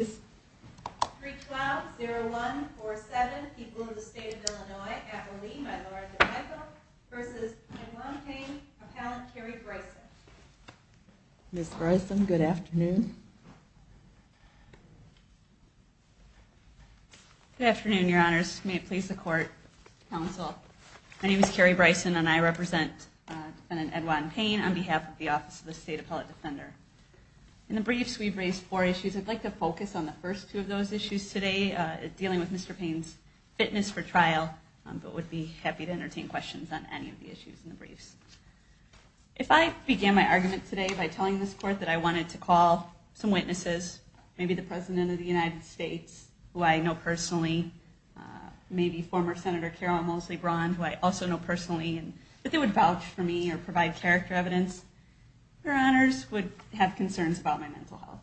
312-0147, People of the State of Illinois, Appellee by Laura DePico, v. Edwon Payne, Appellant Carrie Bryson. Ms. Bryson, good afternoon. Good afternoon, Your Honors. May it please the Court, Counsel. My name is Carrie Bryson, and I represent Defendant Edwon Payne on behalf of the Office of the State Appellate Defender. In the briefs, we've raised four issues. I'd like to focus on the first two of those issues today, dealing with Mr. Payne's fitness for trial, but would be happy to entertain questions on any of the issues in the briefs. If I began my argument today by telling this Court that I wanted to call some witnesses, maybe the President of the United States, who I know personally, maybe former Senator Carol Mosley Braun, who I also know personally, and that they would vouch for me or provide character evidence, Your Honors, would have concerns about my mental health.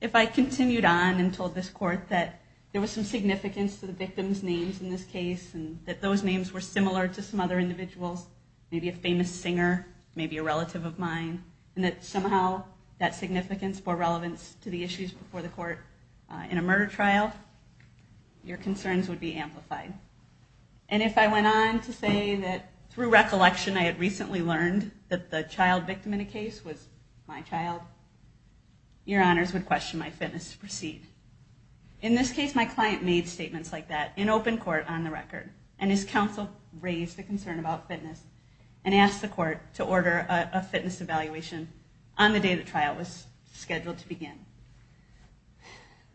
If I continued on and told this Court that there was some significance to the victim's names in this case, and that those names were similar to some other individuals, maybe a famous singer, maybe a relative of mine, and that somehow that significance bore relevance to the issues before the Court in a murder trial, your concerns would be amplified. And if I went on to say that through recollection I had recently learned that the child victim in a case was my child, your Honors would question my fitness to proceed. In this case, my client made statements like that in open court on the record, and his counsel raised the concern about fitness and asked the court to order a fitness evaluation on the day the trial was scheduled to begin.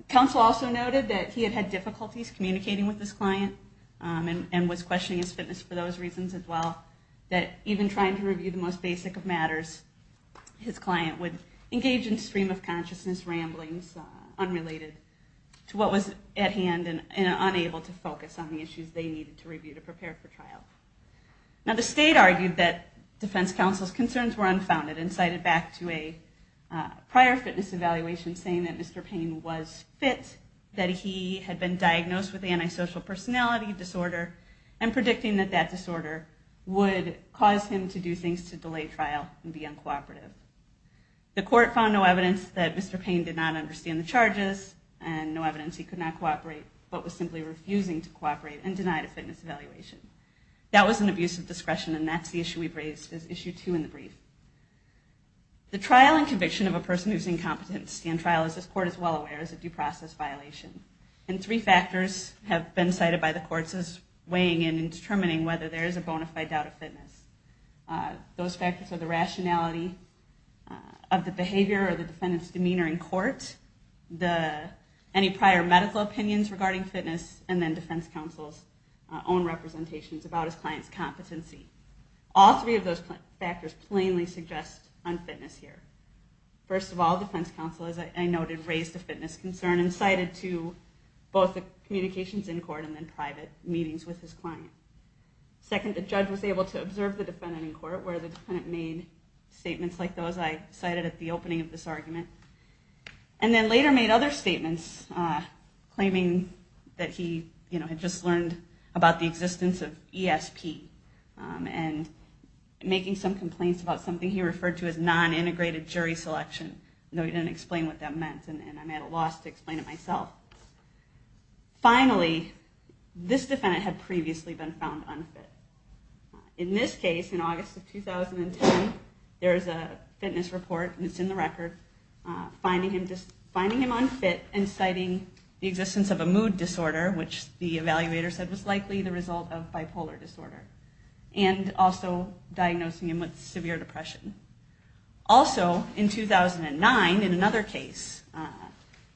Counsel also noted that he had had difficulties communicating with his client and was questioning his fitness for those reasons as well, that even trying to review the most basic of matters, his client would engage in stream-of-consciousness ramblings unrelated to what was at hand and unable to focus on the issues they needed to review to prepare for trial. Now the state argued that defense counsel's concerns were unfounded and cited back to a prior fitness evaluation saying that Mr. Payne was fit, that he had been diagnosed with antisocial personality disorder, and predicting that that disorder would cause him to do things to delay trial and be uncooperative. The court found no evidence that Mr. Payne did not understand the charges and no evidence he could not cooperate, but was simply refusing to That was an abuse of discretion, and that's the issue we've raised as issue two in the brief. The trial and conviction of a person who is incompetent to stand trial, as this court is well aware, is a due process violation. And three factors have been cited by the courts as weighing in and determining whether there is a bona fide doubt of fitness. Those factors are the rationality of the behavior or the defendant's demeanor in court, any prior medical opinions regarding fitness, and then defense counsel's own representations about his client's competency. All three of those factors plainly suggest unfitness here. First of all, defense counsel, as I noted, raised a fitness concern and cited to both the communications in court and then private meetings with his client. Second, the judge was able to observe the defendant in court where the defendant made statements like those I cited at the opening of this about the existence of ESP and making some complaints about something he referred to as non-integrated jury selection, though he didn't explain what that meant, and I'm at a loss to explain it myself. Finally, this defendant had previously been found unfit. In this case, in August of 2010, there is a fitness report, and it's in the record, finding him unfit and citing the existence of a mood disorder, which the evaluator said was likely the result of bipolar disorder, and also diagnosing him with severe depression. Also, in 2009, in another case,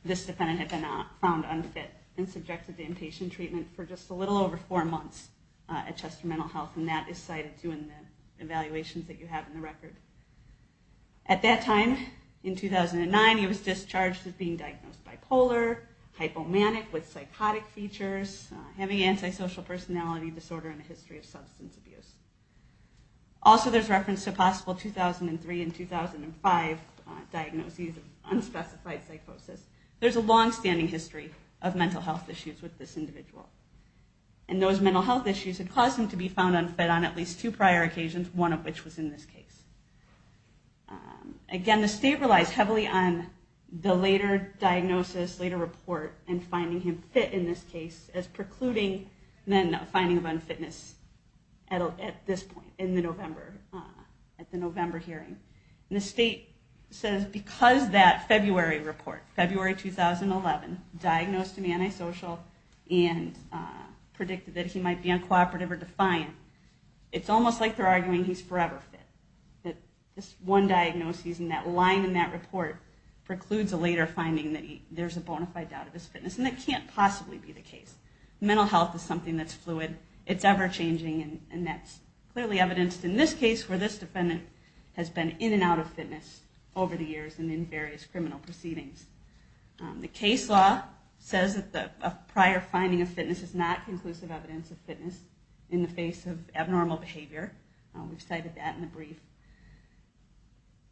this defendant had been found unfit and subjected to inpatient treatment for just a little over four months at Chester Mental Health, and that is cited too in the evaluations that you have in the record. At that time, in 2009, he was discharged as being diagnosed bipolar, hypomanic with psychotic features, having antisocial personality disorder, and a history of substance abuse. Also, there's reference to a possible 2003 and 2005 diagnoses of unspecified psychosis. There's a longstanding history of mental health issues with this individual, and those mental health issues had caused him to be found unfit on at least two prior occasions, one of which was in this case. Again, the state relies heavily on the later diagnosis, later report, and finding him fit in this case as precluding the finding of unfitness at this point, in the November hearing. The state says because that February report, February 2011, diagnosed him antisocial and predicted that he might be uncooperative or defiant, it's almost like they're arguing he's forever fit, that this one diagnosis and that line in that report precludes a later finding that there's a bona fide doubt of his fitness, and that can't possibly be the case. Mental health is something that's fluid. It's ever-changing, and that's clearly evidenced in this case where this defendant has been in and out of fitness over the years and in various criminal proceedings. The case law says that a prior finding of fitness is not conclusive evidence of fitness in the face of abnormal behavior. We've cited that in the brief.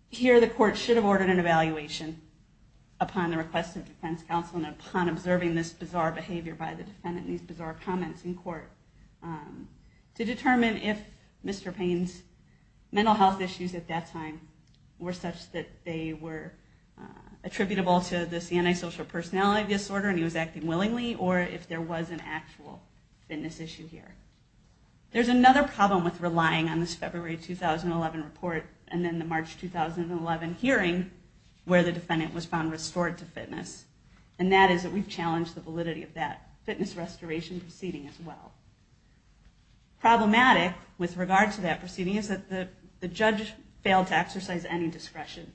Here, the court should have ordered an evaluation upon the request of defense counsel and upon observing this bizarre behavior by the defendant and these bizarre comments in court to determine if Mr. Payne's mental health issues at that time were such that they were attributable to this antisocial personality disorder and he was acting willingly, or if there was an actual fitness issue here. There's another problem with relying on this February 2011 report and then the March 2011 hearing where the defendant was found restored to fitness, and that is that we've challenged the validity of that fitness restoration proceeding as well. Problematic with regard to that proceeding is that the judge failed to exercise any discretion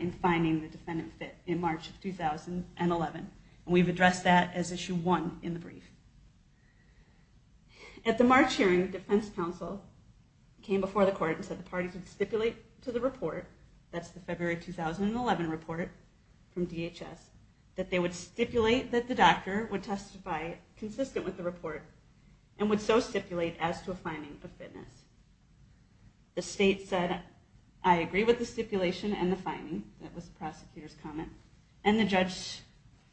in finding the defendant fit. That was in March of 2011, and we've addressed that as issue one in the brief. At the March hearing, defense counsel came before the court and said the parties would stipulate to the report, that's the February 2011 report from DHS, that they would stipulate that the doctor would testify consistent with the report and would so stipulate as to a finding of fitness. The state said, I agree with the stipulation and the finding, that was the prosecutor's comment, and the judge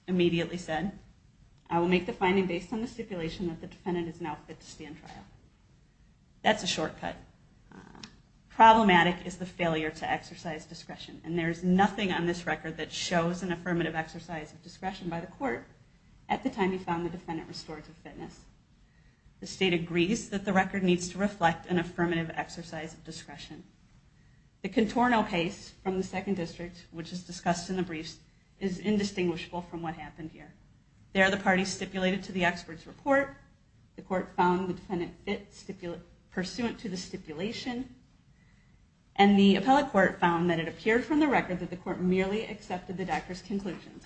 immediately said, I will make the finding based on the stipulation that the defendant is now fit to stand trial. That's a shortcut. Problematic is the failure to exercise discretion, and there's nothing on this record that shows an affirmative exercise of discretion by the court at the time you found the defendant restored to fitness. The state agrees that the record needs to reflect an affirmative exercise of discretion. The contorno case from the second district, which is discussed in the briefs, is indistinguishable from what happened here. There the parties stipulated to the expert's report, the court found the defendant fit pursuant to the stipulation, and the appellate court found that it appeared from the record that the court merely accepted the doctor's conclusions.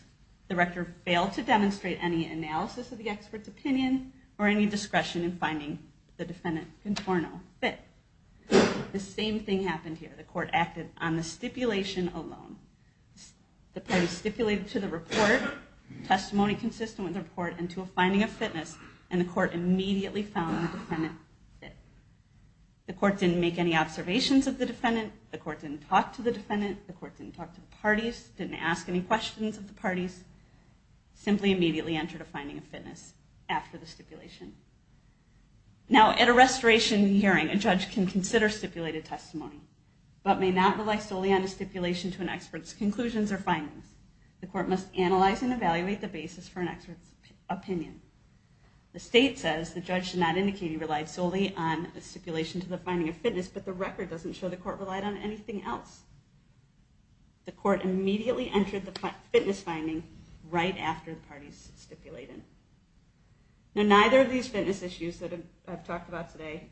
The record failed to demonstrate any analysis of the expert's opinion or any discretion in finding the defendant contorno fit. The same thing happened here. The court acted on the stipulation alone. The parties stipulated to the report, testimony consistent with the report, and to a finding of fitness, and the court immediately found the defendant fit. The court didn't make any observations of the defendant, the court didn't talk to the defendant, the court didn't talk to the parties, didn't ask any questions of the parties, simply immediately entered a finding of fitness after the stipulation. Now at a restoration hearing, a judge can consider stipulated testimony, but may not rely solely on a stipulation to an expert's conclusions or findings. The court must analyze and evaluate the basis for an expert's opinion. The state says the judge should not indicate he relied solely on a stipulation to the finding of fitness, but the record doesn't show the court relied on anything else. The court immediately entered the fitness finding right after the parties stipulated. Now neither of these fitness issues that I've talked about today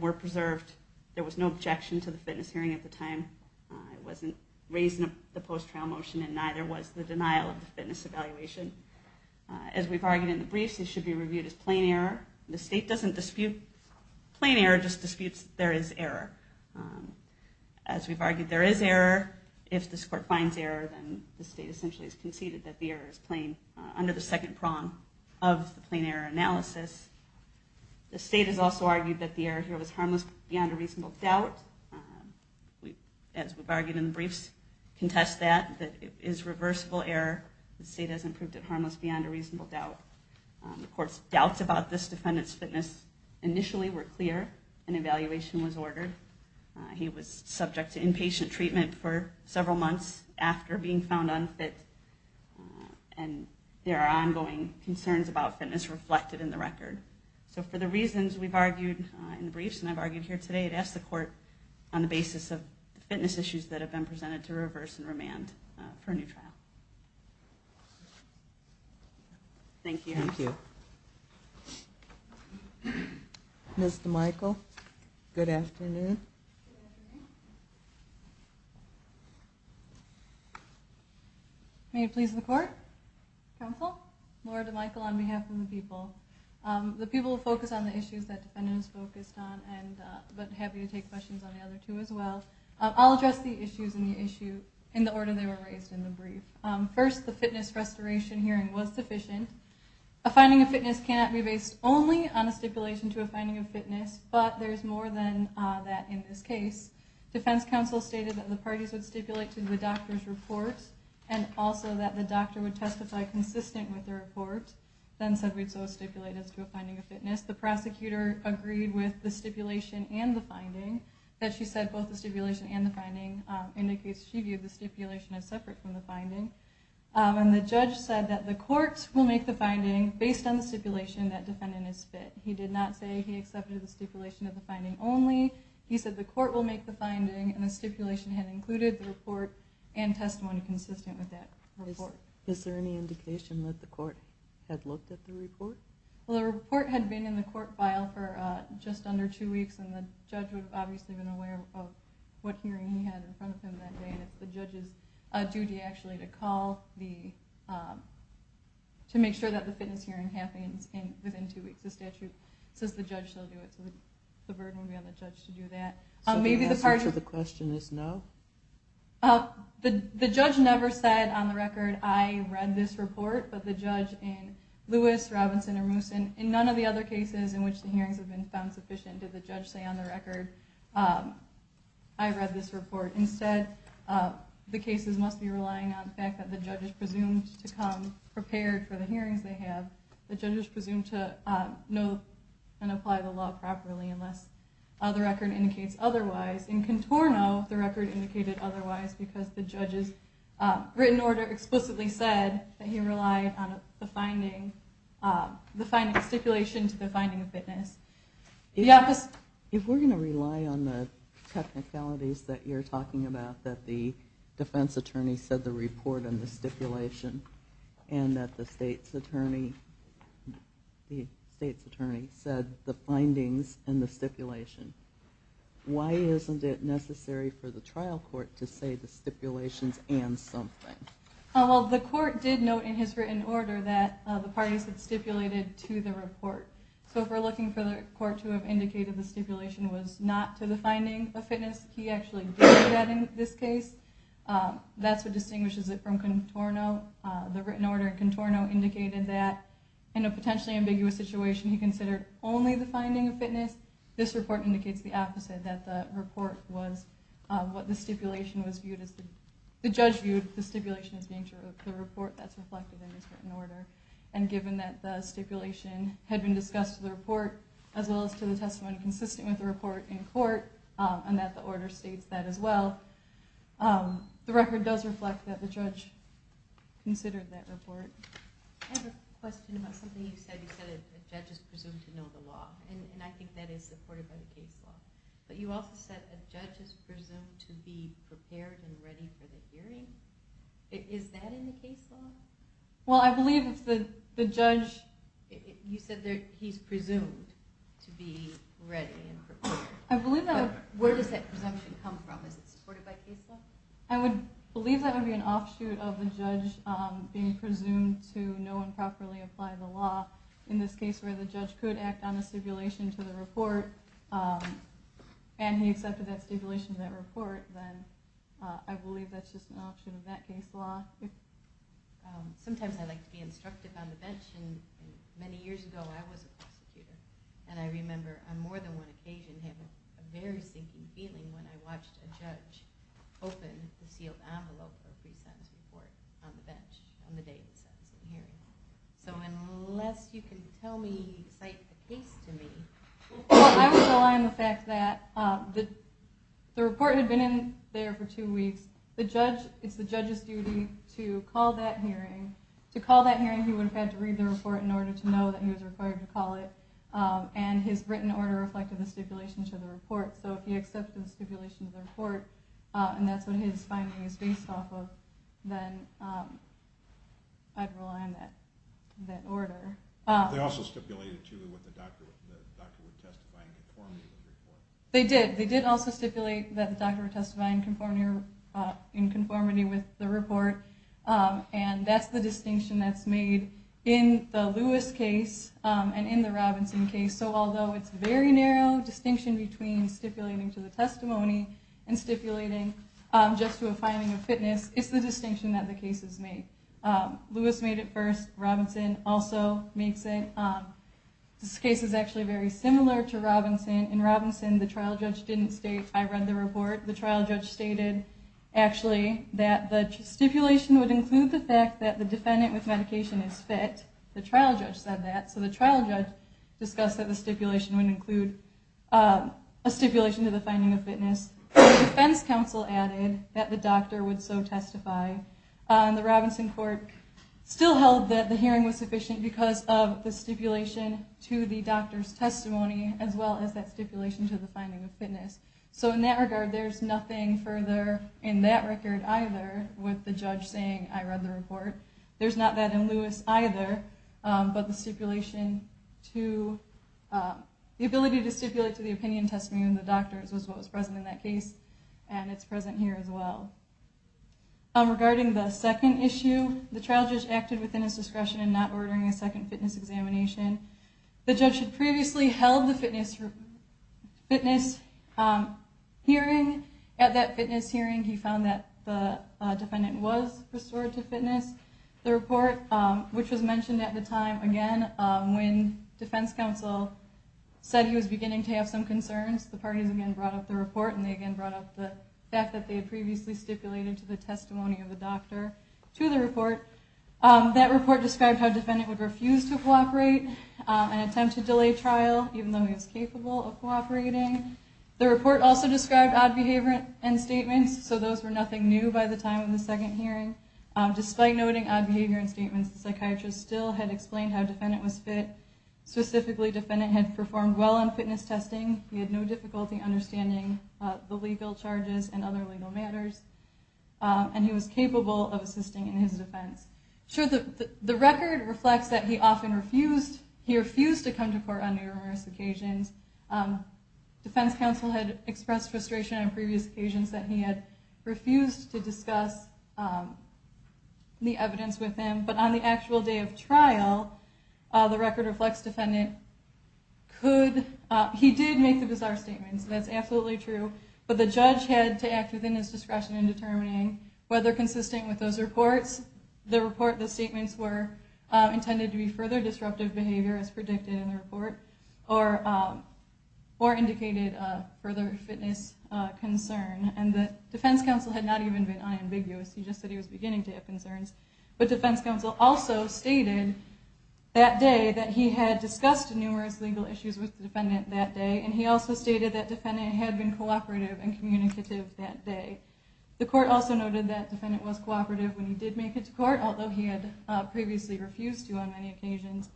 were preserved. There was no objection to the fitness hearing at the time. It wasn't raised in the post-trial motion, and neither was the denial of the fitness evaluation. As we've argued in the briefs, it should be reviewed as plain error. The state doesn't dispute plain error, it just disputes there is error. As we've argued, there is error. If this court finds error, then the state essentially has conceded that the error is plain, under the second prong of the plain error analysis. The state has also argued that the error here was harmless beyond a reasonable doubt. As we've argued in the briefs, contest that, that it is reversible error. The state has improved it harmless beyond a reasonable doubt. The court's doubts about this defendant's fitness initially were clear, an evaluation was ordered. He was subject to inpatient treatment for several months after being found unfit, and there are ongoing concerns about fitness reflected in the record. So for the reasons we've argued in the briefs and I've argued here today, I'd ask the court on the basis of the fitness issues that have been presented to reverse and remand for a new trial. Thank you. Thank you. Ms. DeMichel, good afternoon. Good afternoon. May it please the court, counsel, Laura DeMichel on behalf of the people. The people will focus on the issues that the defendant has focused on, but happy to take questions on the other two as well. I'll address the issues in the order they were raised in the brief. First, the fitness restoration hearing was sufficient. A finding of fitness cannot be based only on a stipulation to a finding of fitness, but there's more than that in this case. Defense counsel stated that the parties would stipulate to the doctor's report and also that the doctor would testify consistent with the report, then said we'd so stipulate as to a finding of fitness. The prosecutor agreed with the stipulation and the finding, that she said both the stipulation and the finding. In the case she viewed, the stipulation is separate from the finding. And the judge said that the court will make the finding based on the stipulation that defendant is fit. He did not say he accepted the stipulation of the finding only. He said the court will make the finding and the stipulation had included the report and testimony consistent with that report. Is there any indication that the court had looked at the report? Well, the report had been in the court file for just under two weeks, and the judge would have obviously been aware of what hearing he had in front of him that day. The judge's duty actually to make sure that the fitness hearing happens within two weeks. The statute says the judge shall do it, so the burden would be on the judge to do that. So the answer to the question is no? The judge never said on the record, I read this report, but the judge in Lewis, Robinson, or Mooson, in none of the other cases in which the hearings have been found sufficient did the judge say on the record, I read this report. Instead, the cases must be relying on the fact that the judge is presumed to come prepared for the hearings they have. The judge is presumed to know and apply the law properly unless the record indicates otherwise. In Contorno, the record indicated otherwise because the judge's written order explicitly said that he relied on the finding, the stipulation to the finding of fitness. If we're going to rely on the technicalities that you're talking about, that the defense attorney said the report and the stipulation, and that the state's attorney said the findings and the stipulation, why isn't it necessary for the trial court to say the stipulations and something? The court did note in his written order that the parties had stipulated to the report. So if we're looking for the court to have indicated the stipulation was not to the finding of fitness, he actually did that in this case. That's what distinguishes it from Contorno. The written order in Contorno indicated that in a potentially ambiguous situation, he considered only the finding of fitness. This report indicates the opposite, that the report was what the stipulation was viewed as, the judge viewed the stipulation as being the report that's reflected in his written order. And given that the stipulation had been discussed to the report as well as to the testimony consistent with the report in court, and that the order states that as well, the record does reflect that the judge considered that report. I have a question about something you said. You said a judge is presumed to know the law, and I think that is supported by the case law. But you also said a judge is presumed to be prepared and ready for the hearing. Is that in the case law? Well, I believe the judge, you said he's presumed to be ready and prepared. Where does that presumption come from? Is it supported by case law? I would believe that would be an offshoot of the judge being presumed to know and properly apply the law. In this case where the judge could act on a stipulation to the report, and he accepted that stipulation to that report, then I believe that's just an offshoot of that case law. Sometimes I like to be instructive on the bench. Many years ago I was a prosecutor, and I remember on more than one occasion having a very sinking feeling when I watched a judge open the sealed envelope of a pre-sentence report on the bench on the day of the sentencing hearing. So unless you can cite the case to me... I would rely on the fact that the report had been in there for two weeks. It's the judge's duty to call that hearing. He would have had to read the report in order to know that he was required to call it. His written order reflected the stipulation to the report. So if he accepted the stipulation to the report and that's what his finding is based off of, then I'd rely on that order. They also stipulated that the doctor would testify in conformity with the report. They did. In the Lewis case and in the Robinson case, so although it's a very narrow distinction between stipulating to the testimony and stipulating just to a finding of fitness, it's the distinction that the cases make. Lewis made it first. Robinson also makes it. This case is actually very similar to Robinson. In Robinson, the trial judge didn't state, I read the report, the trial judge stated that the stipulation would include the fact that the defendant with medication is fit. The trial judge said that, so the trial judge discussed that the stipulation would include a stipulation to the finding of fitness. The defense counsel added that the doctor would so testify. The Robinson court still held that the hearing was sufficient because of the stipulation to the doctor's testimony as well as that stipulation to the finding of fitness. In that regard, there's nothing further in that record either with the judge saying, I read the report. There's not that in Lewis either, but the ability to stipulate to the opinion testimony in the doctor's was what was present in that case and it's present here as well. Regarding the second issue, the trial judge acted within his discretion in not ordering a second fitness examination. The judge had previously held the fitness hearing. At that fitness hearing, he found that the defendant was restored to fitness. The report, which was mentioned at the time again when defense counsel said he was beginning to have some concerns, the parties again brought up the report and they again brought up the fact that they had previously stipulated to the testimony of the doctor to the report. That report described how defendant would refuse to cooperate and attempt to delay trial even though he was capable of cooperating. The report also described odd behavior and statements so those were nothing new by the time of the second hearing. Despite noting odd behavior and statements, the psychiatrist still had explained how defendant was fit. Specifically, defendant had performed well on fitness testing, he had no difficulty understanding the legal charges and other legal matters and he was capable of assisting in his defense. The record reflects that he often refused to come to court on numerous occasions. Defense counsel had expressed frustration on previous occasions that he had refused to discuss the evidence with him but on the actual day of trial, the record reflects defendant could, he did make the bizarre statements, that's absolutely true, but the judge had to act within his discretion in determining whether consistent with those reports, the statements were intended to be further disruptive behavior as predicted in the report or indicated further fitness concern. Defense counsel had not even been unambiguous, he just said he was beginning to have concerns but defense counsel also stated that day that he had discussed numerous legal issues with the defendant that day and he also stated that defendant had been cooperative and communicative that day. The court also noted that defendant was cooperative when he did make it to court although he had previously refused to on many occasions.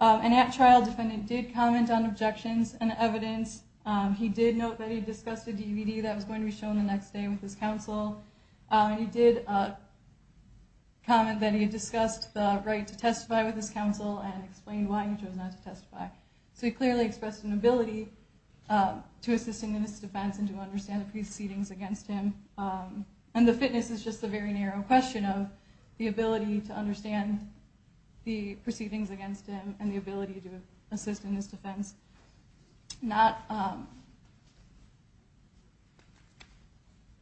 At trial, defendant did comment on objections and evidence, he did note that he discussed a DVD that was going to be shown the next day with his counsel and he did comment that he had discussed the right to testify with his counsel and explained why he chose not to testify. So he clearly expressed an ability to assist in his defense and to understand the proceedings against him and the fitness is just a very narrow question of the ability to understand the proceedings against him and the ability to assist in his defense. Not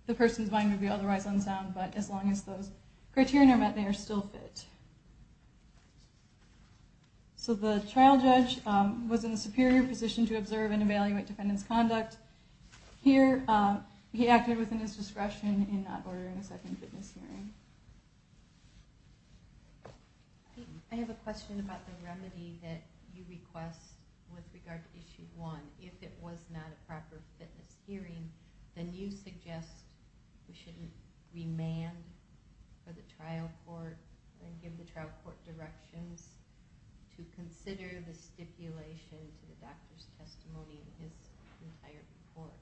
the person's mind would be otherwise unsound but as long as those criteria are met they are still fit. So the trial judge was in a superior position to observe and evaluate defendant's conduct. Here he acted within his discretion in not ordering a second fitness hearing. I have a question about the remedy that you request with regard to issue 1. If it was not a proper fitness hearing then you suggest we shouldn't remand for the trial court and give the trial court directions to consider the stipulation to the doctor's testimony in his entire report.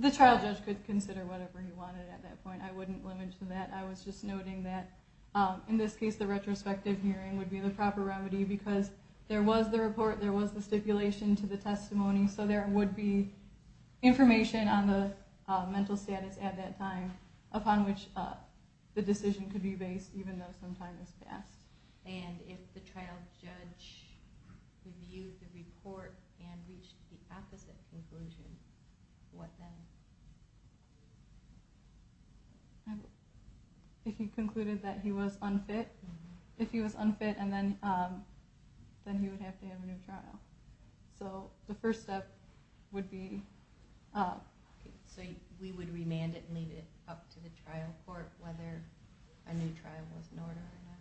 The trial judge could consider whatever he wanted at that point. I wouldn't limit it to that. I was just noting that in this case the retrospective hearing would be the proper remedy because there was the report there was the stipulation to the testimony so there would be information on the mental status at that time upon which the decision could be based even though some time has passed. And if the trial judge reviewed the report and reached the opposite conclusion what then? If he concluded that he was unfit if he was unfit then he would have to have a new trial. So the first step would be So we would remand it and leave it up to the trial court whether a new trial was in order or not?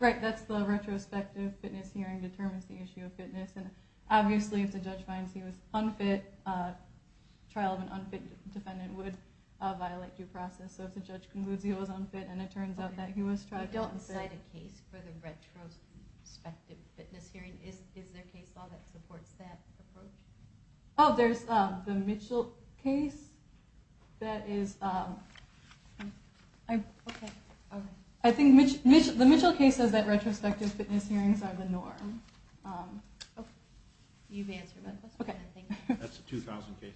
Right, that's the retrospective fitness hearing determines the issue of fitness and obviously if the judge finds he was unfit a trial of an unfit defendant would violate due process so if the judge concludes he was unfit and it turns out that he was unfit You don't cite a case for the retrospective fitness hearing is there case law that supports that approach? Oh, there's the Mitchell case that is I think the Mitchell case says that retrospective fitness hearings are the norm That's a 2000 case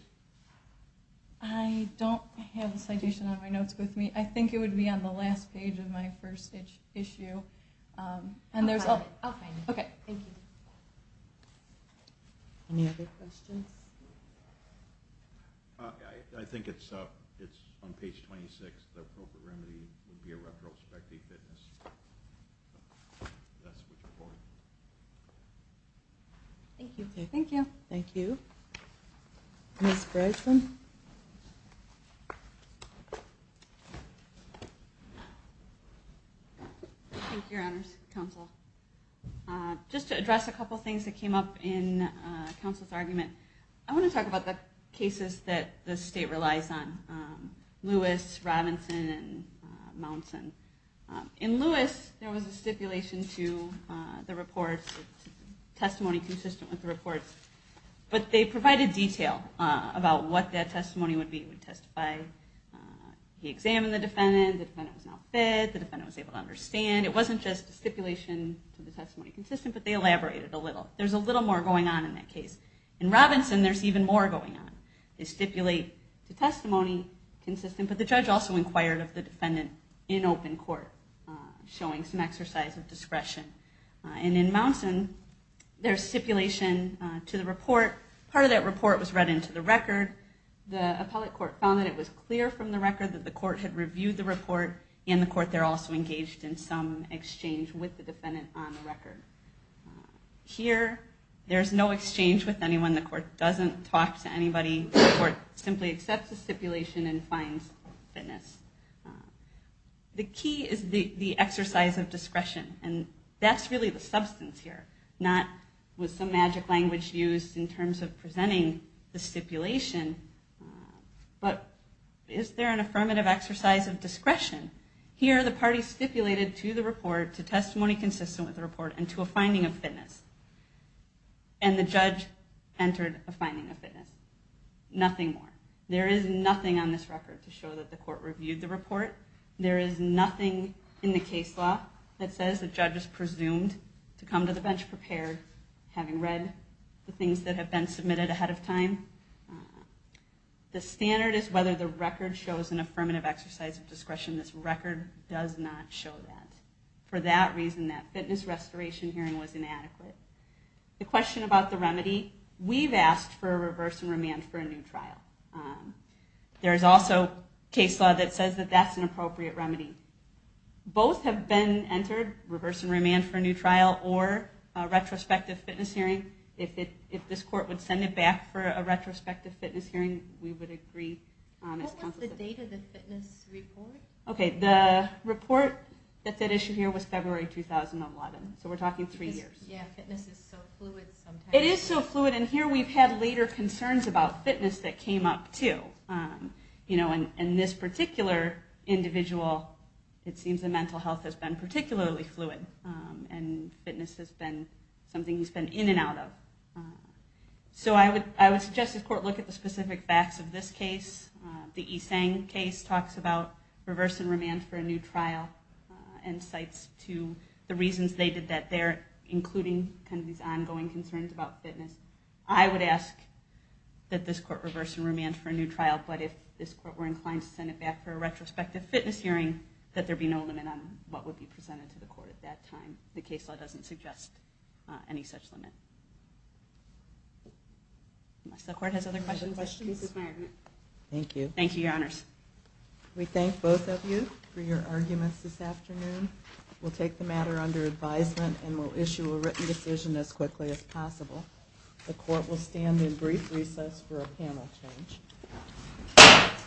I don't have a citation on my notes with me. I think it would be on the last page of my first issue I'll find it Any other questions? I think it's on page 26 the appropriate remedy would be a retrospective fitness That's what you're for Thank you Ms. Breslin Thank you, Your Honors Just to address a couple things that came up in counsel's argument I want to talk about the cases that the state relies on Lewis, Robinson, and Mounson In Lewis, there was a stipulation to the reports testimony consistent with the reports but they provided detail about what that testimony would be He examined the defendant The defendant was not fit It wasn't just a stipulation but they elaborated a little In Robinson, there's even more going on They stipulate the testimony but the judge also inquired of the defendant showing some exercise of discretion In Mounson, there's stipulation to the report The appellate court found that it was clear from the record that the court had reviewed the report and the court there also engaged in some exchange with the defendant on the record Here, there's no exchange with anyone The court doesn't talk to anybody The court simply accepts the stipulation and finds fitness The key is the exercise of discretion That's really the substance here Not with some magic language used in terms of presenting the stipulation but is there an affirmative exercise of discretion? Here, the party stipulated to the report, to testimony consistent with the report and to a finding of fitness and the judge entered a finding of fitness Nothing more. There is nothing on this record to show that the court reviewed the report There is nothing in the case law that says the judge is presumed to come to the bench prepared, having read the things that have been submitted ahead of time The standard is whether the record shows an affirmative exercise of discretion. This record does not show that For that reason, that fitness restoration hearing was inadequate The question about the remedy We've asked for a reverse and remand for a new trial There is also case law that says that's an appropriate remedy Both have been entered If this court would send it back for a retrospective fitness hearing we would agree What was the date of the fitness report? The report that issued here was February 2011 So we're talking three years It is so fluid Here we've had later concerns about fitness that came up too In this particular individual it seems the mental health has been particularly fluid and fitness has been something he's been in and out of I would suggest the court look at the specific facts of this case The E. Tsang case talks about reverse and remand for a new trial and cites the reasons they did that including these ongoing concerns about fitness I would ask that this court reverse and remand for a new trial but if this court were inclined to send it back for a retrospective fitness hearing that there be no limit on what would be presented to the court The case law doesn't suggest any such limit Unless the court has other questions Thank you We thank both of you for your arguments this afternoon We'll take the matter under advisement and we'll issue a written decision as quickly as possible The court will stand in brief recess for a panel change